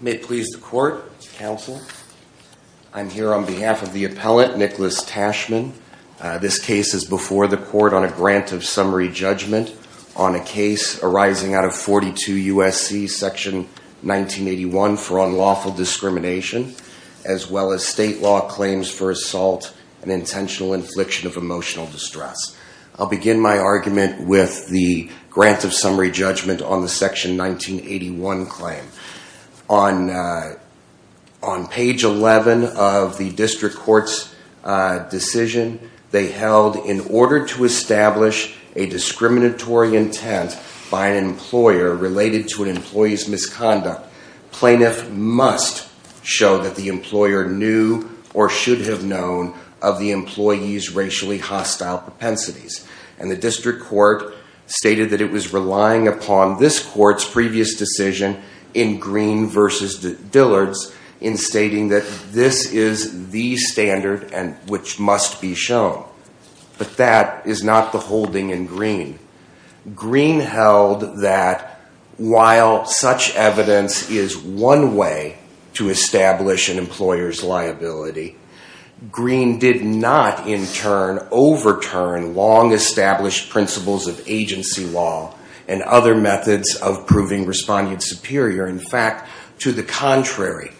May it please the Court, Counsel. I'm here on behalf of the appellant, Nicholas Tashman. This case is before the Court on a grant of summary judgment on a case arising out of 42 U.S.C. section 1981 for unlawful discrimination, as well as state law claims for assault and intentional infliction of emotional distress. I'll begin my argument with the grant of summary judgment on the section 1981 claim. On page 11 of the district court's decision, they held, in order to establish a discriminatory intent by an employer related to an employee's misconduct, plaintiff must show that the employer knew or should have known of the employee's racially hostile propensities. And the district court stated that it was relying upon this court's previous decision in Green v. Dillard's in stating that this is the standard which must be shown. But that is not the holding in Green. Green held that while such evidence is one way to establish an employer's liability, Green did not, in turn, overturn long-established principles of agency law and other methods of proving respondents superior. In fact, to the contrary,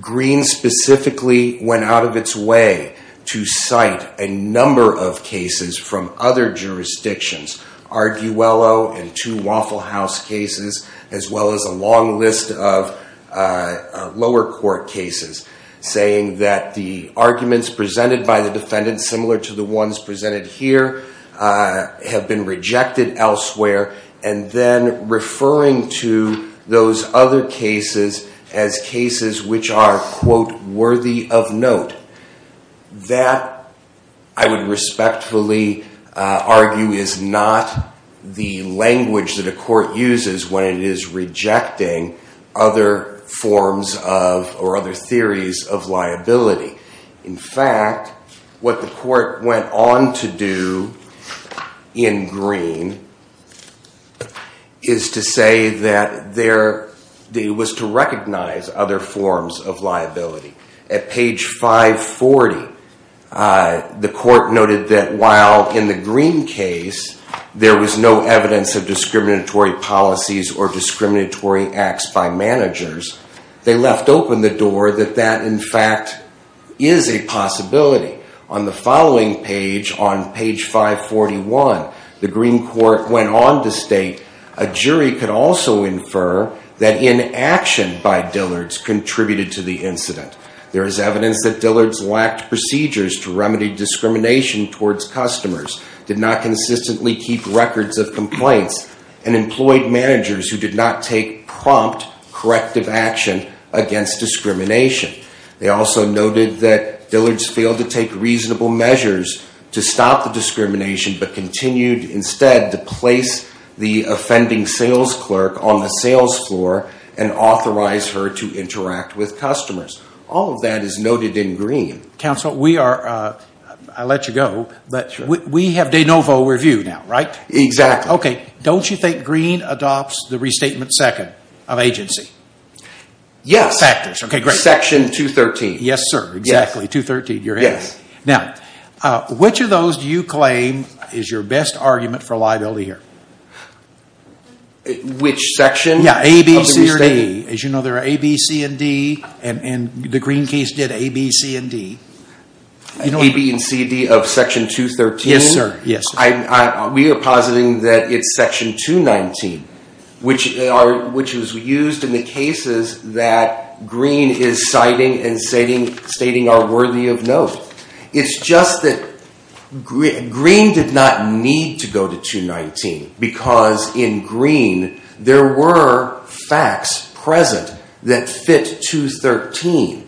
Green specifically went out of its way to cite a number of cases from other jurisdictions, Arguello and two Waffle House cases, as well as a long list of lower court cases, saying that the arguments presented by the defendant, similar to the ones presented here, have been rejected elsewhere, and then referring to those other cases as cases which are, quote, worthy of note. That, I would respectfully argue, is not the language that a court uses when it is rejecting other forms of or other theories of liability. In fact, what the court went on to do in Green is to say that it was to recognize other forms of liability. At page 540, the court noted that while in the Green case there was no evidence of discriminatory policies or discriminatory acts by managers, they left open the door that that, in fact, is a possibility. On the following page, on page 541, the Green court went on to state, a jury could also infer that inaction by Dillards contributed to the incident. There is evidence that Dillards lacked procedures to remedy discrimination towards customers, did not consistently keep records of complaints, and employed managers who did not take prompt, corrective action against discrimination. They also noted that Dillards failed to take reasonable measures to stop the discrimination, but continued instead to place the offending sales clerk on the sales floor and authorize her to interact with customers. All of that is noted in Green. Counsel, we are, I'll let you go, but we have de novo review now, right? Exactly. Okay, don't you think Green adopts the restatement second of agency? Yes. Factors, okay, great. Section 213. Yes, sir, exactly, 213, you're in. Yes. Now, which of those do you claim is your best argument for liability here? Which section? Yeah, A, B, C, or D. As you know, there are A, B, C, and D, and the Green case did A, B, C, and D. A, B, and C, D of section 213? Yes, sir, yes. We are positing that it's section 219, which was used in the cases that Green is citing and stating are worthy of note. It's just that Green did not need to go to 219, because in Green there were facts present that fit 213.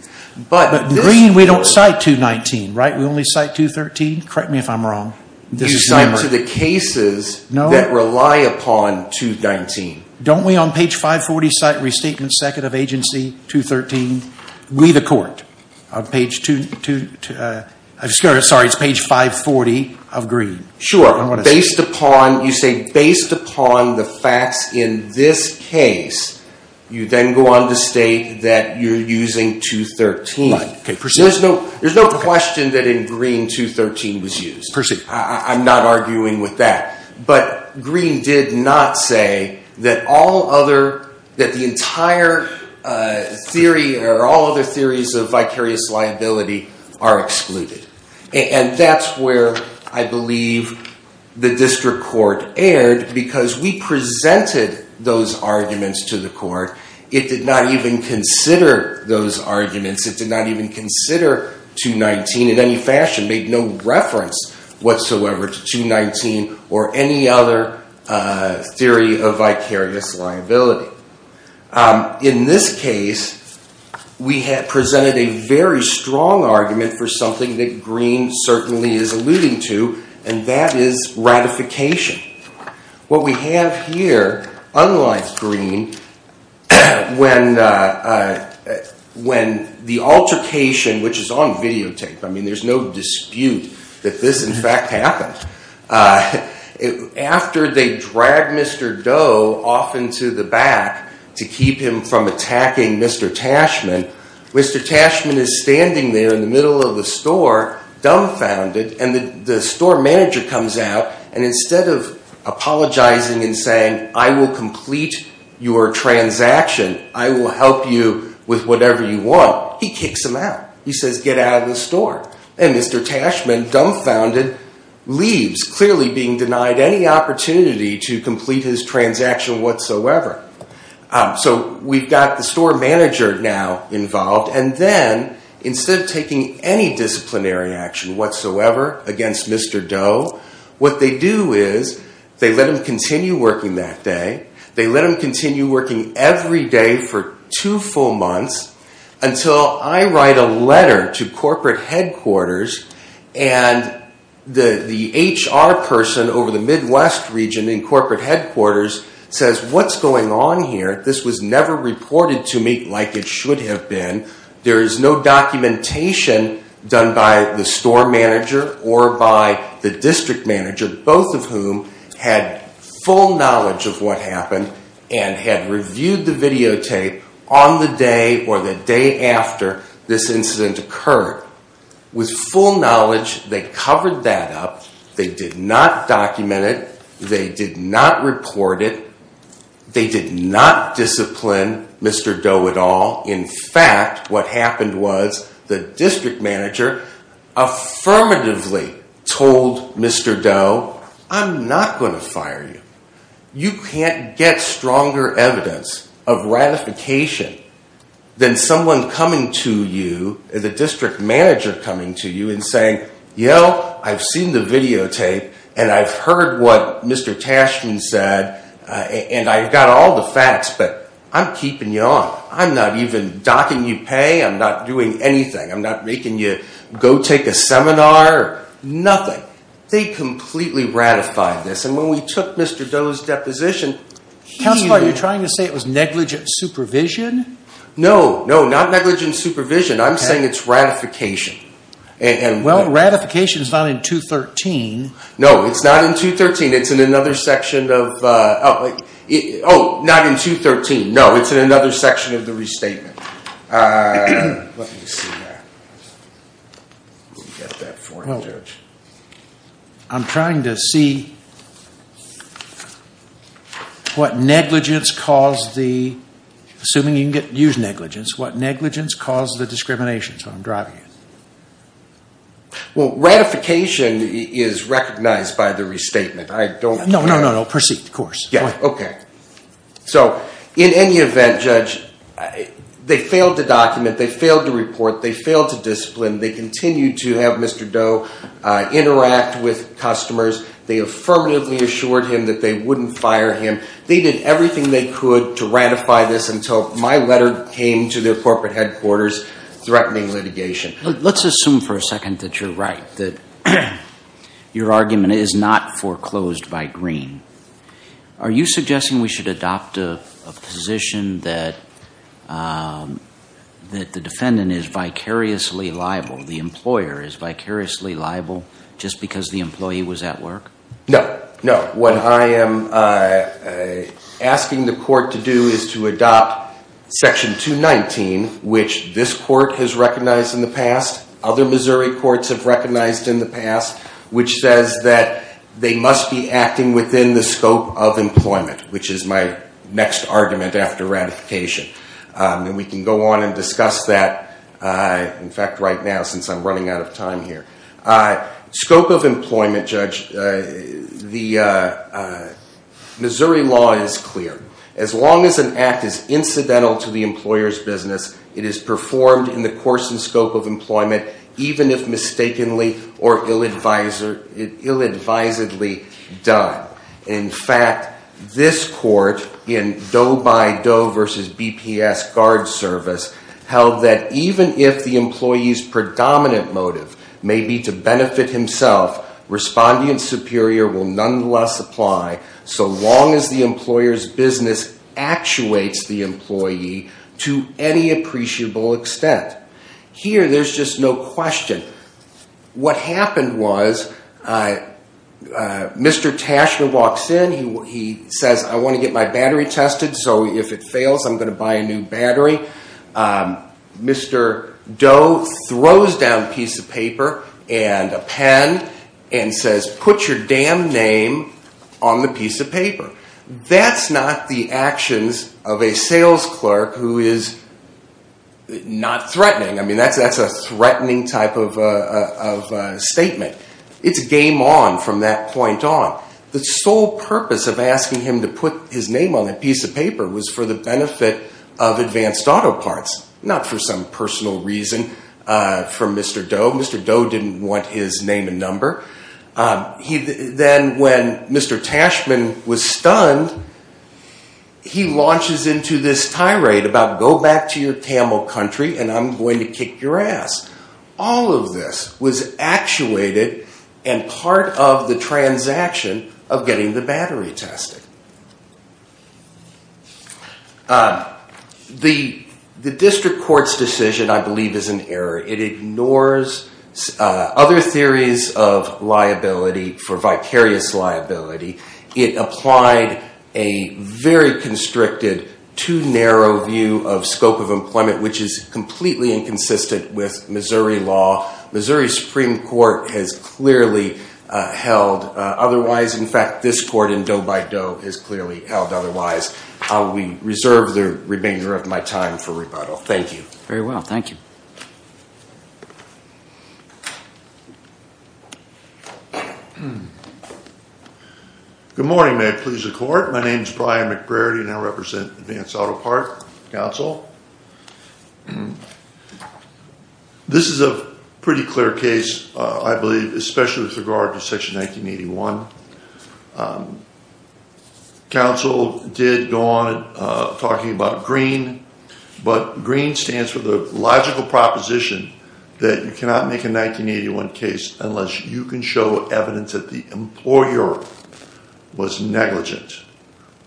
But Green, we don't cite 219, right? We only cite 213? Correct me if I'm wrong. You cite to the cases that rely upon 219. Don't we on page 540 cite restatement second of agency 213? We, the court, on page 2, I'm sorry, it's page 540 of Green. Sure. Based upon, you say based upon the facts in this case, you then go on to state that you're using 213. Right, okay, proceed. There's no question that in Green 213 was used. Proceed. I'm not arguing with that. But Green did not say that all other, that the entire theory or all other theories of vicarious liability are excluded. And that's where I believe the district court erred, because we presented those arguments to the court. It did not even consider those arguments. It did not even consider 219 in any fashion, made no reference whatsoever to 219 or any other theory of vicarious liability. In this case, we had presented a very strong argument for something that Green certainly is alluding to, and that is ratification. What we have here, unlike Green, when the altercation, which is on videotape, I mean, there's no dispute that this, in fact, happened. After they dragged Mr. Doe off into the back to keep him from attacking Mr. Tashman, Mr. Tashman is standing there in the middle of the store, dumbfounded, and the store manager comes out, and instead of apologizing and saying, I will complete your transaction, I will help you with whatever you want, he kicks him out. He says, get out of the store. And Mr. Tashman, dumbfounded, leaves, clearly being denied any opportunity to complete his transaction whatsoever. So we've got the store manager now involved, and then, instead of taking any disciplinary action whatsoever against Mr. Doe, what they do is they let him continue working that day. They let him continue working every day for two full months, until I write a letter to corporate headquarters, and the HR person over the Midwest region in corporate headquarters says, what's going on here? This was never reported to me like it should have been. There is no documentation done by the store manager or by the district manager, both of whom had full knowledge of what happened and had reviewed the videotape on the day or the day after this incident occurred. With full knowledge, they covered that up. They did not document it. They did not report it. They did not discipline Mr. Doe at all. In fact, what happened was the district manager affirmatively told Mr. Doe, I'm not going to fire you. You can't get stronger evidence of ratification than someone coming to you, the district manager coming to you and saying, yo, I've seen the videotape, and I've heard what Mr. Tashman said, and I've got all the facts, but I'm keeping you on. I'm not even docking you pay. I'm not doing anything. I'm not making you go take a seminar or nothing. They completely ratified this. And when we took Mr. Doe's deposition, he- Counselor, are you trying to say it was negligent supervision? No, no, not negligent supervision. I'm saying it's ratification. Well, ratification is not in 213. No, it's not in 213. It's in another section of-oh, not in 213. No, it's in another section of the restatement. Let me see that. Let me get that for you, Judge. I'm trying to see what negligence caused the-assuming you can use negligence-what negligence caused the discrimination. That's what I'm driving at. Well, ratification is recognized by the restatement. I don't- No, no, no. Proceed, of course. Okay. So in any event, Judge, they failed to document, they failed to report, they failed to discipline. They continued to have Mr. Doe interact with customers. They affirmatively assured him that they wouldn't fire him. They did everything they could to ratify this until my letter came to their corporate headquarters threatening litigation. Let's assume for a second that you're right, that your argument is not foreclosed by Green. Are you suggesting we should adopt a position that the defendant is vicariously liable, the employer is vicariously liable, just because the employee was at work? No, no. What I am asking the court to do is to adopt Section 219, which this court has recognized in the past, other Missouri courts have recognized in the past, which says that they must be acting within the scope of employment, which is my next argument after ratification. And we can go on and discuss that, in fact, right now since I'm running out of time here. Scope of employment, Judge, the Missouri law is clear. As long as an act is incidental to the employer's business, it is performed in the course and scope of employment, even if mistakenly or ill-advisedly done. In fact, this court in Doe by Doe v. BPS Guard Service held that even if the employee's predominant motive may be to benefit himself, respondent superior will nonetheless apply so long as the employer's business actuates the employee to any appreciable extent. Here, there's just no question. What happened was, Mr. Tashner walks in, he says, I want to get my battery tested, so if it fails, I'm going to buy a new battery. Mr. Doe throws down a piece of paper and a pen and says, put your damn name on the piece of paper. That's not the actions of a sales clerk who is not threatening. I mean, that's a threatening type of statement. It's game on from that point on. The sole purpose of asking him to put his name on that piece of paper was for the benefit of advanced auto parts, not for some personal reason from Mr. Doe. Mr. Doe didn't want his name and number. Then when Mr. Tashman was stunned, he launches into this tirade about go back to your Tamil country and I'm going to kick your ass. All of this was actuated and part of the transaction of getting the battery tested. The district court's decision, I believe, is an error. It ignores other theories of liability for vicarious liability. It applied a very constricted, too narrow view of scope of employment, which is completely inconsistent with Missouri law. Missouri Supreme Court has clearly held otherwise. In fact, this court in Doe by Doe has clearly held otherwise. I will reserve the remainder of my time for rebuttal. Thank you. Very well. Thank you. Good morning. May it please the court. My name is Brian McBrady and I represent Advanced Auto Parts Council. This is a pretty clear case, I believe, especially with regard to Section 1981. Council did go on talking about green, but green stands for the logical proposition that you cannot make a 1981 case unless you can show evidence that the employer was negligent.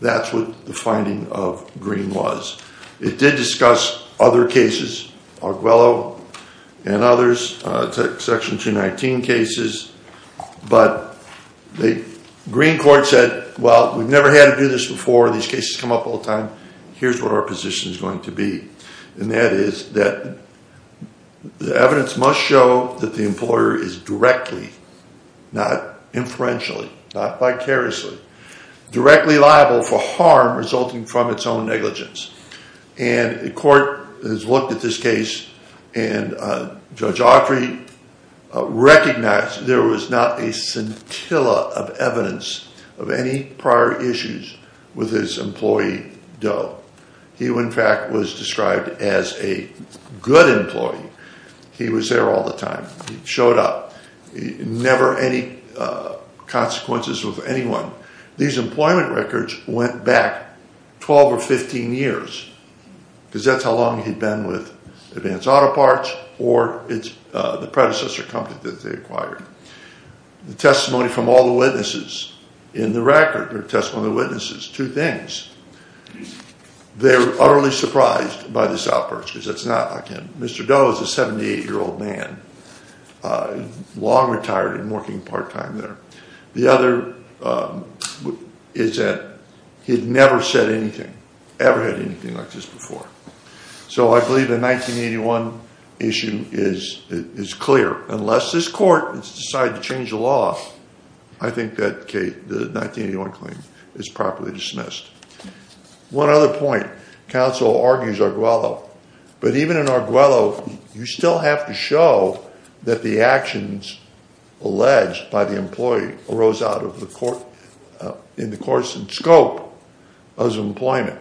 That's what the finding of green was. It did discuss other cases, Arguello and others, Section 219 cases, but the green court said, well, we've never had to do this before. These cases come up all the time. Here's what our position is going to be. And that is that the evidence must show that the employer is directly, not inferentially, not vicariously, directly liable for harm resulting from its own negligence. And the court has looked at this case and Judge Autry recognized there was not a scintilla of evidence of any prior issues with his employee Doe. He, in fact, was described as a good employee. He was there all the time. He showed up. Never any consequences with anyone. These employment records went back 12 or 15 years, because that's how long he'd been with Advanced Auto Parts or the predecessor company that they acquired. The testimony from all the witnesses in the record, or testimony of witnesses, two things. They're utterly surprised by this outburst, because it's not like him. Mr. Doe is a 78-year-old man, long retired and working part-time there. The other is that he'd never said anything, ever had anything like this before. So I believe the 1981 issue is clear. Unless this court has decided to change the law, I think that the 1981 claim is properly dismissed. One other point. But even in Arguello, you still have to show that the actions alleged by the employee arose in the course and scope of his employment.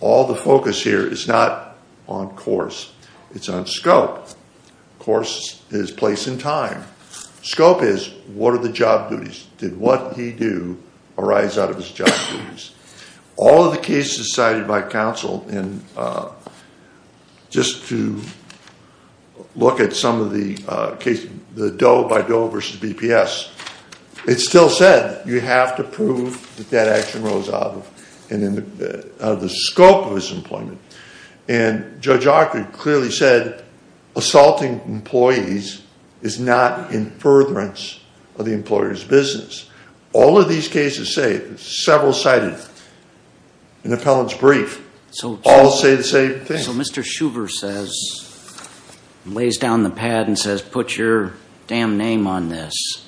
All the focus here is not on course. It's on scope. Course is place and time. Scope is, what are the job duties? Did what he do arise out of his job duties? All of the cases cited by counsel, and just to look at some of the case, the Doe by Doe versus BPS, it still said you have to prove that that action arose out of the scope of his employment. And Judge Arguello clearly said assaulting employees is not in furtherance of the employer's business. All of these cases say, several cited in appellant's brief, all say the same thing. So Mr. Shuver says, lays down the pad and says, put your damn name on this,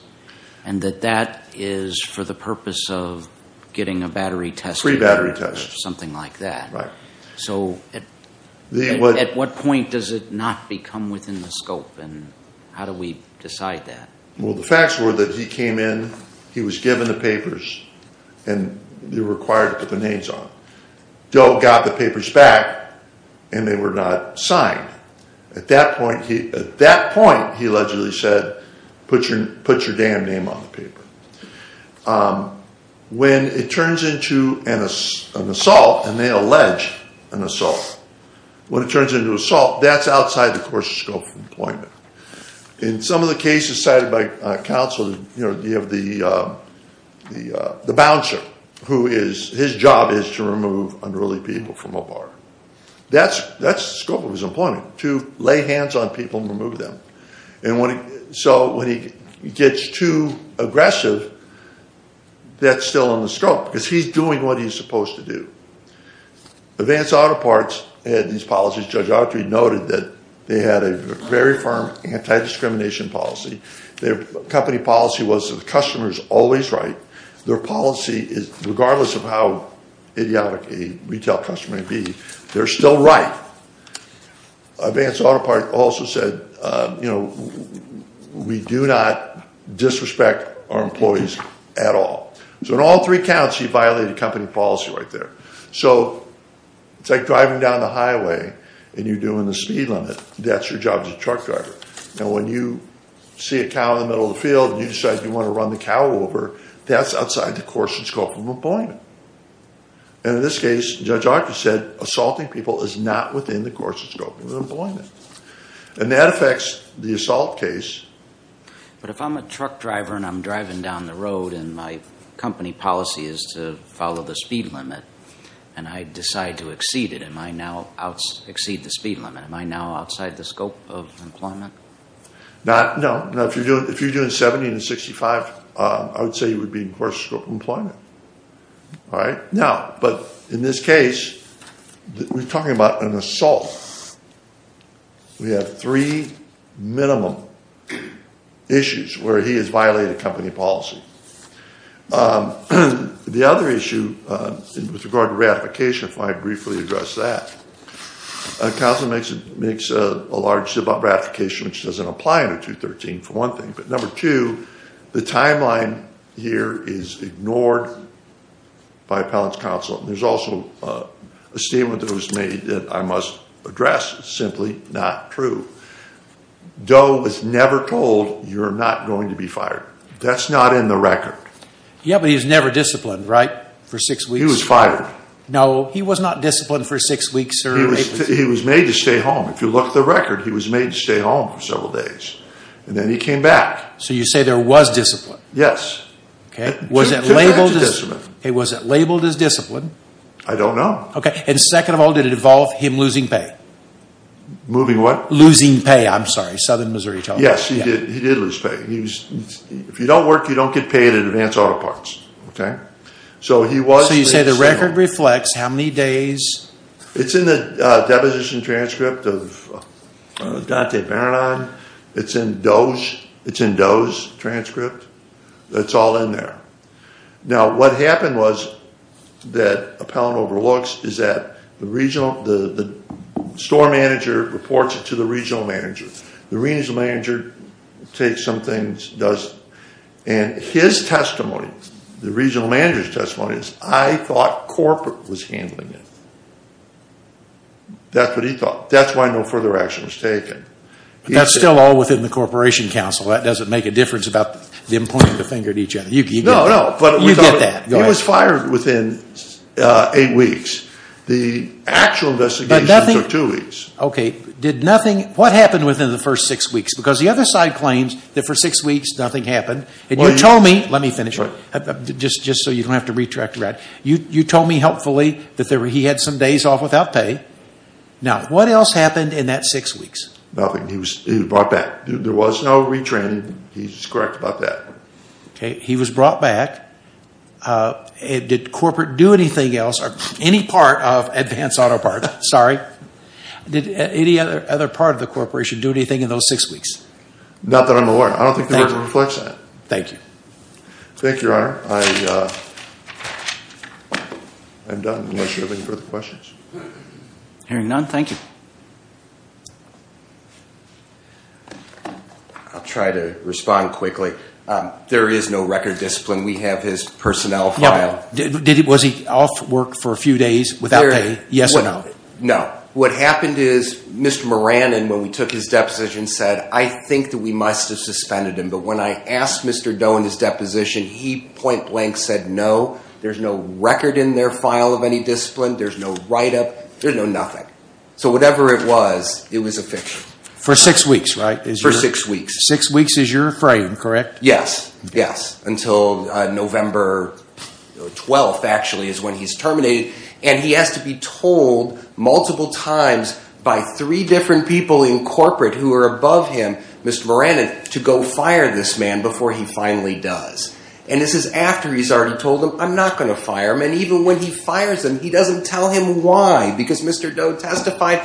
and that that is for the purpose of getting a battery tested. Free battery test. Something like that. Right. So at what point does it not become within the scope, and how do we decide that? Well, the facts were that he came in, he was given the papers, and you're required to put the names on. Doe got the papers back, and they were not signed. At that point, he allegedly said, put your damn name on the paper. When it turns into an assault, and they allege an assault. When it turns into assault, that's outside the course of scope of employment. In some of the cases cited by counsel, you have the bouncer, who his job is to remove unruly people from a bar. That's the scope of his employment, to lay hands on people and remove them. So when he gets too aggressive, that's still in the scope, because he's doing what he's supposed to do. Advance Auto Parts had these policies. Judge Autry noted that they had a very firm anti-discrimination policy. Their company policy was that the customer is always right. Their policy is, regardless of how idiotic a retail customer may be, they're still right. Advance Auto Parts also said, we do not disrespect our employees at all. So in all three counts, he violated company policy right there. So it's like driving down the highway, and you're doing the speed limit. That's your job as a truck driver. Now when you see a cow in the middle of the field, and you decide you want to run the cow over, that's outside the course and scope of employment. And in this case, Judge Autry said, assaulting people is not within the course and scope of employment. And that affects the assault case. But if I'm a truck driver, and I'm driving down the road, and my company policy is to follow the speed limit, and I decide to exceed it, and I now exceed the speed limit, am I now outside the scope of employment? No. If you're doing 70 and 65, I would say you would be in course and scope of employment. Now, but in this case, we're talking about an assault. We have three minimum issues where he has violated company policy. The other issue with regard to ratification, if I briefly address that, a council makes a large ratification, which doesn't apply under 213, for one thing. But number two, the timeline here is ignored by appellant's counsel. There's also a statement that was made that I must address. It's simply not true. Doe was never told, you're not going to be fired. That's not in the record. Yeah, but he was never disciplined, right, for six weeks? He was fired. No, he was not disciplined for six weeks, sir. He was made to stay home. If you look at the record, he was made to stay home for several days. And then he came back. So you say there was discipline. Yes. Okay. Was it labeled as discipline? I don't know. Okay. And second of all, did it involve him losing pay? Moving what? Losing pay, I'm sorry. Southern Missouri told me. Yes, he did lose pay. If you don't work, you don't get paid in advance auto parts. Okay. So he was made to stay home. So you say the record reflects how many days? It's in the deposition transcript of Dante Baradon. It's in Doe's transcript. It's all in there. Now, what happened was that Appellant overlooks is that the store manager reports it to the regional manager. The regional manager takes some things and does it. And his testimony, the regional manager's testimony is, I thought corporate was handling it. That's what he thought. That's why no further action was taken. That's still all within the Corporation Council. That doesn't make a difference about them pointing the finger at each other. No, no. You get that. He was fired within eight weeks. The actual investigation took two weeks. Okay. What happened within the first six weeks? Because the other side claims that for six weeks nothing happened. And you told me, let me finish just so you don't have to retract. You told me helpfully that he had some days off without pay. Now, what else happened in that six weeks? Nothing. He was brought back. There was no retraining. He's correct about that. Okay. He was brought back. Did corporate do anything else or any part of Advance Auto Parts? Sorry. Did any other part of the corporation do anything in those six weeks? Not that I'm aware of. I don't think they were able to reflect that. Thank you. Thank you, Your Honor. I'm done unless you have any further questions. Hearing none, thank you. I'll try to respond quickly. There is no record discipline. We have his personnel file. Was he off work for a few days without pay? Yes or no? No. What happened is Mr. Moran, when we took his deposition, said, I think that we must have suspended him. But when I asked Mr. Doe in his deposition, he point blank said no. There's no record in their file of any discipline. There's no write-up. There's no nothing. So whatever it was, it was a fiction. For six weeks, right? For six weeks. Six weeks is your frame, correct? Yes. Yes. Until November 12th, actually, is when he's terminated. And he has to be told multiple times by three different people in corporate who are above him, Mr. Moran, to go fire this man before he finally does. And this is after he's already told them, I'm not going to fire him. And even when he fires him, he doesn't tell him why because Mr. Doe testified,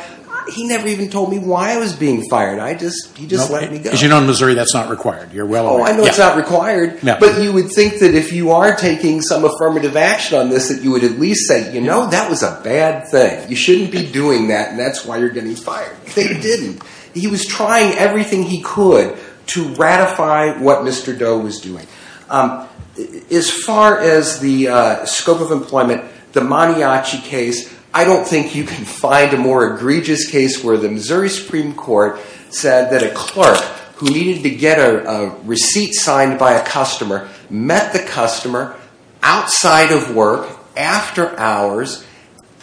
he never even told me why I was being fired. He just let me go. As you know, in Missouri, that's not required. You're well aware. Oh, I know it's not required. But you would think that if you are taking some affirmative action on this, that you would at least say, you know, that was a bad thing. You shouldn't be doing that, and that's why you're getting fired. They didn't. He was trying everything he could to ratify what Mr. Doe was doing. As far as the scope of employment, the Maniachi case, I don't think you can find a more egregious case where the Missouri Supreme Court said that a clerk who needed to get a receipt signed by a customer met the customer outside of work, after hours,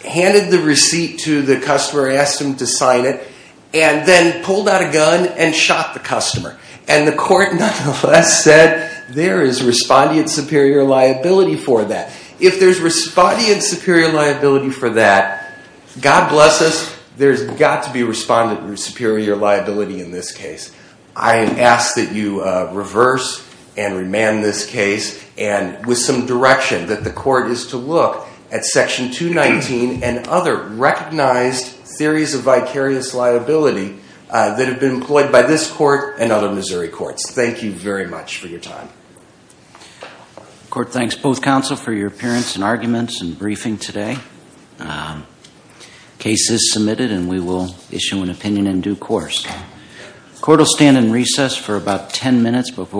handed the receipt to the customer, asked him to sign it, and then pulled out a gun and shot the customer. And the court nonetheless said there is respondeant superior liability for that. If there's respondeant superior liability for that, God bless us, there's got to be respondeant superior liability in this case. I ask that you reverse and remand this case and with some direction that the court is to look at Section 219 and other recognized theories of vicarious liability that have been employed by this court and other Missouri courts. Thank you very much for your time. The court thanks both counsel for your appearance and arguments and briefing today. The case is submitted and we will issue an opinion in due course.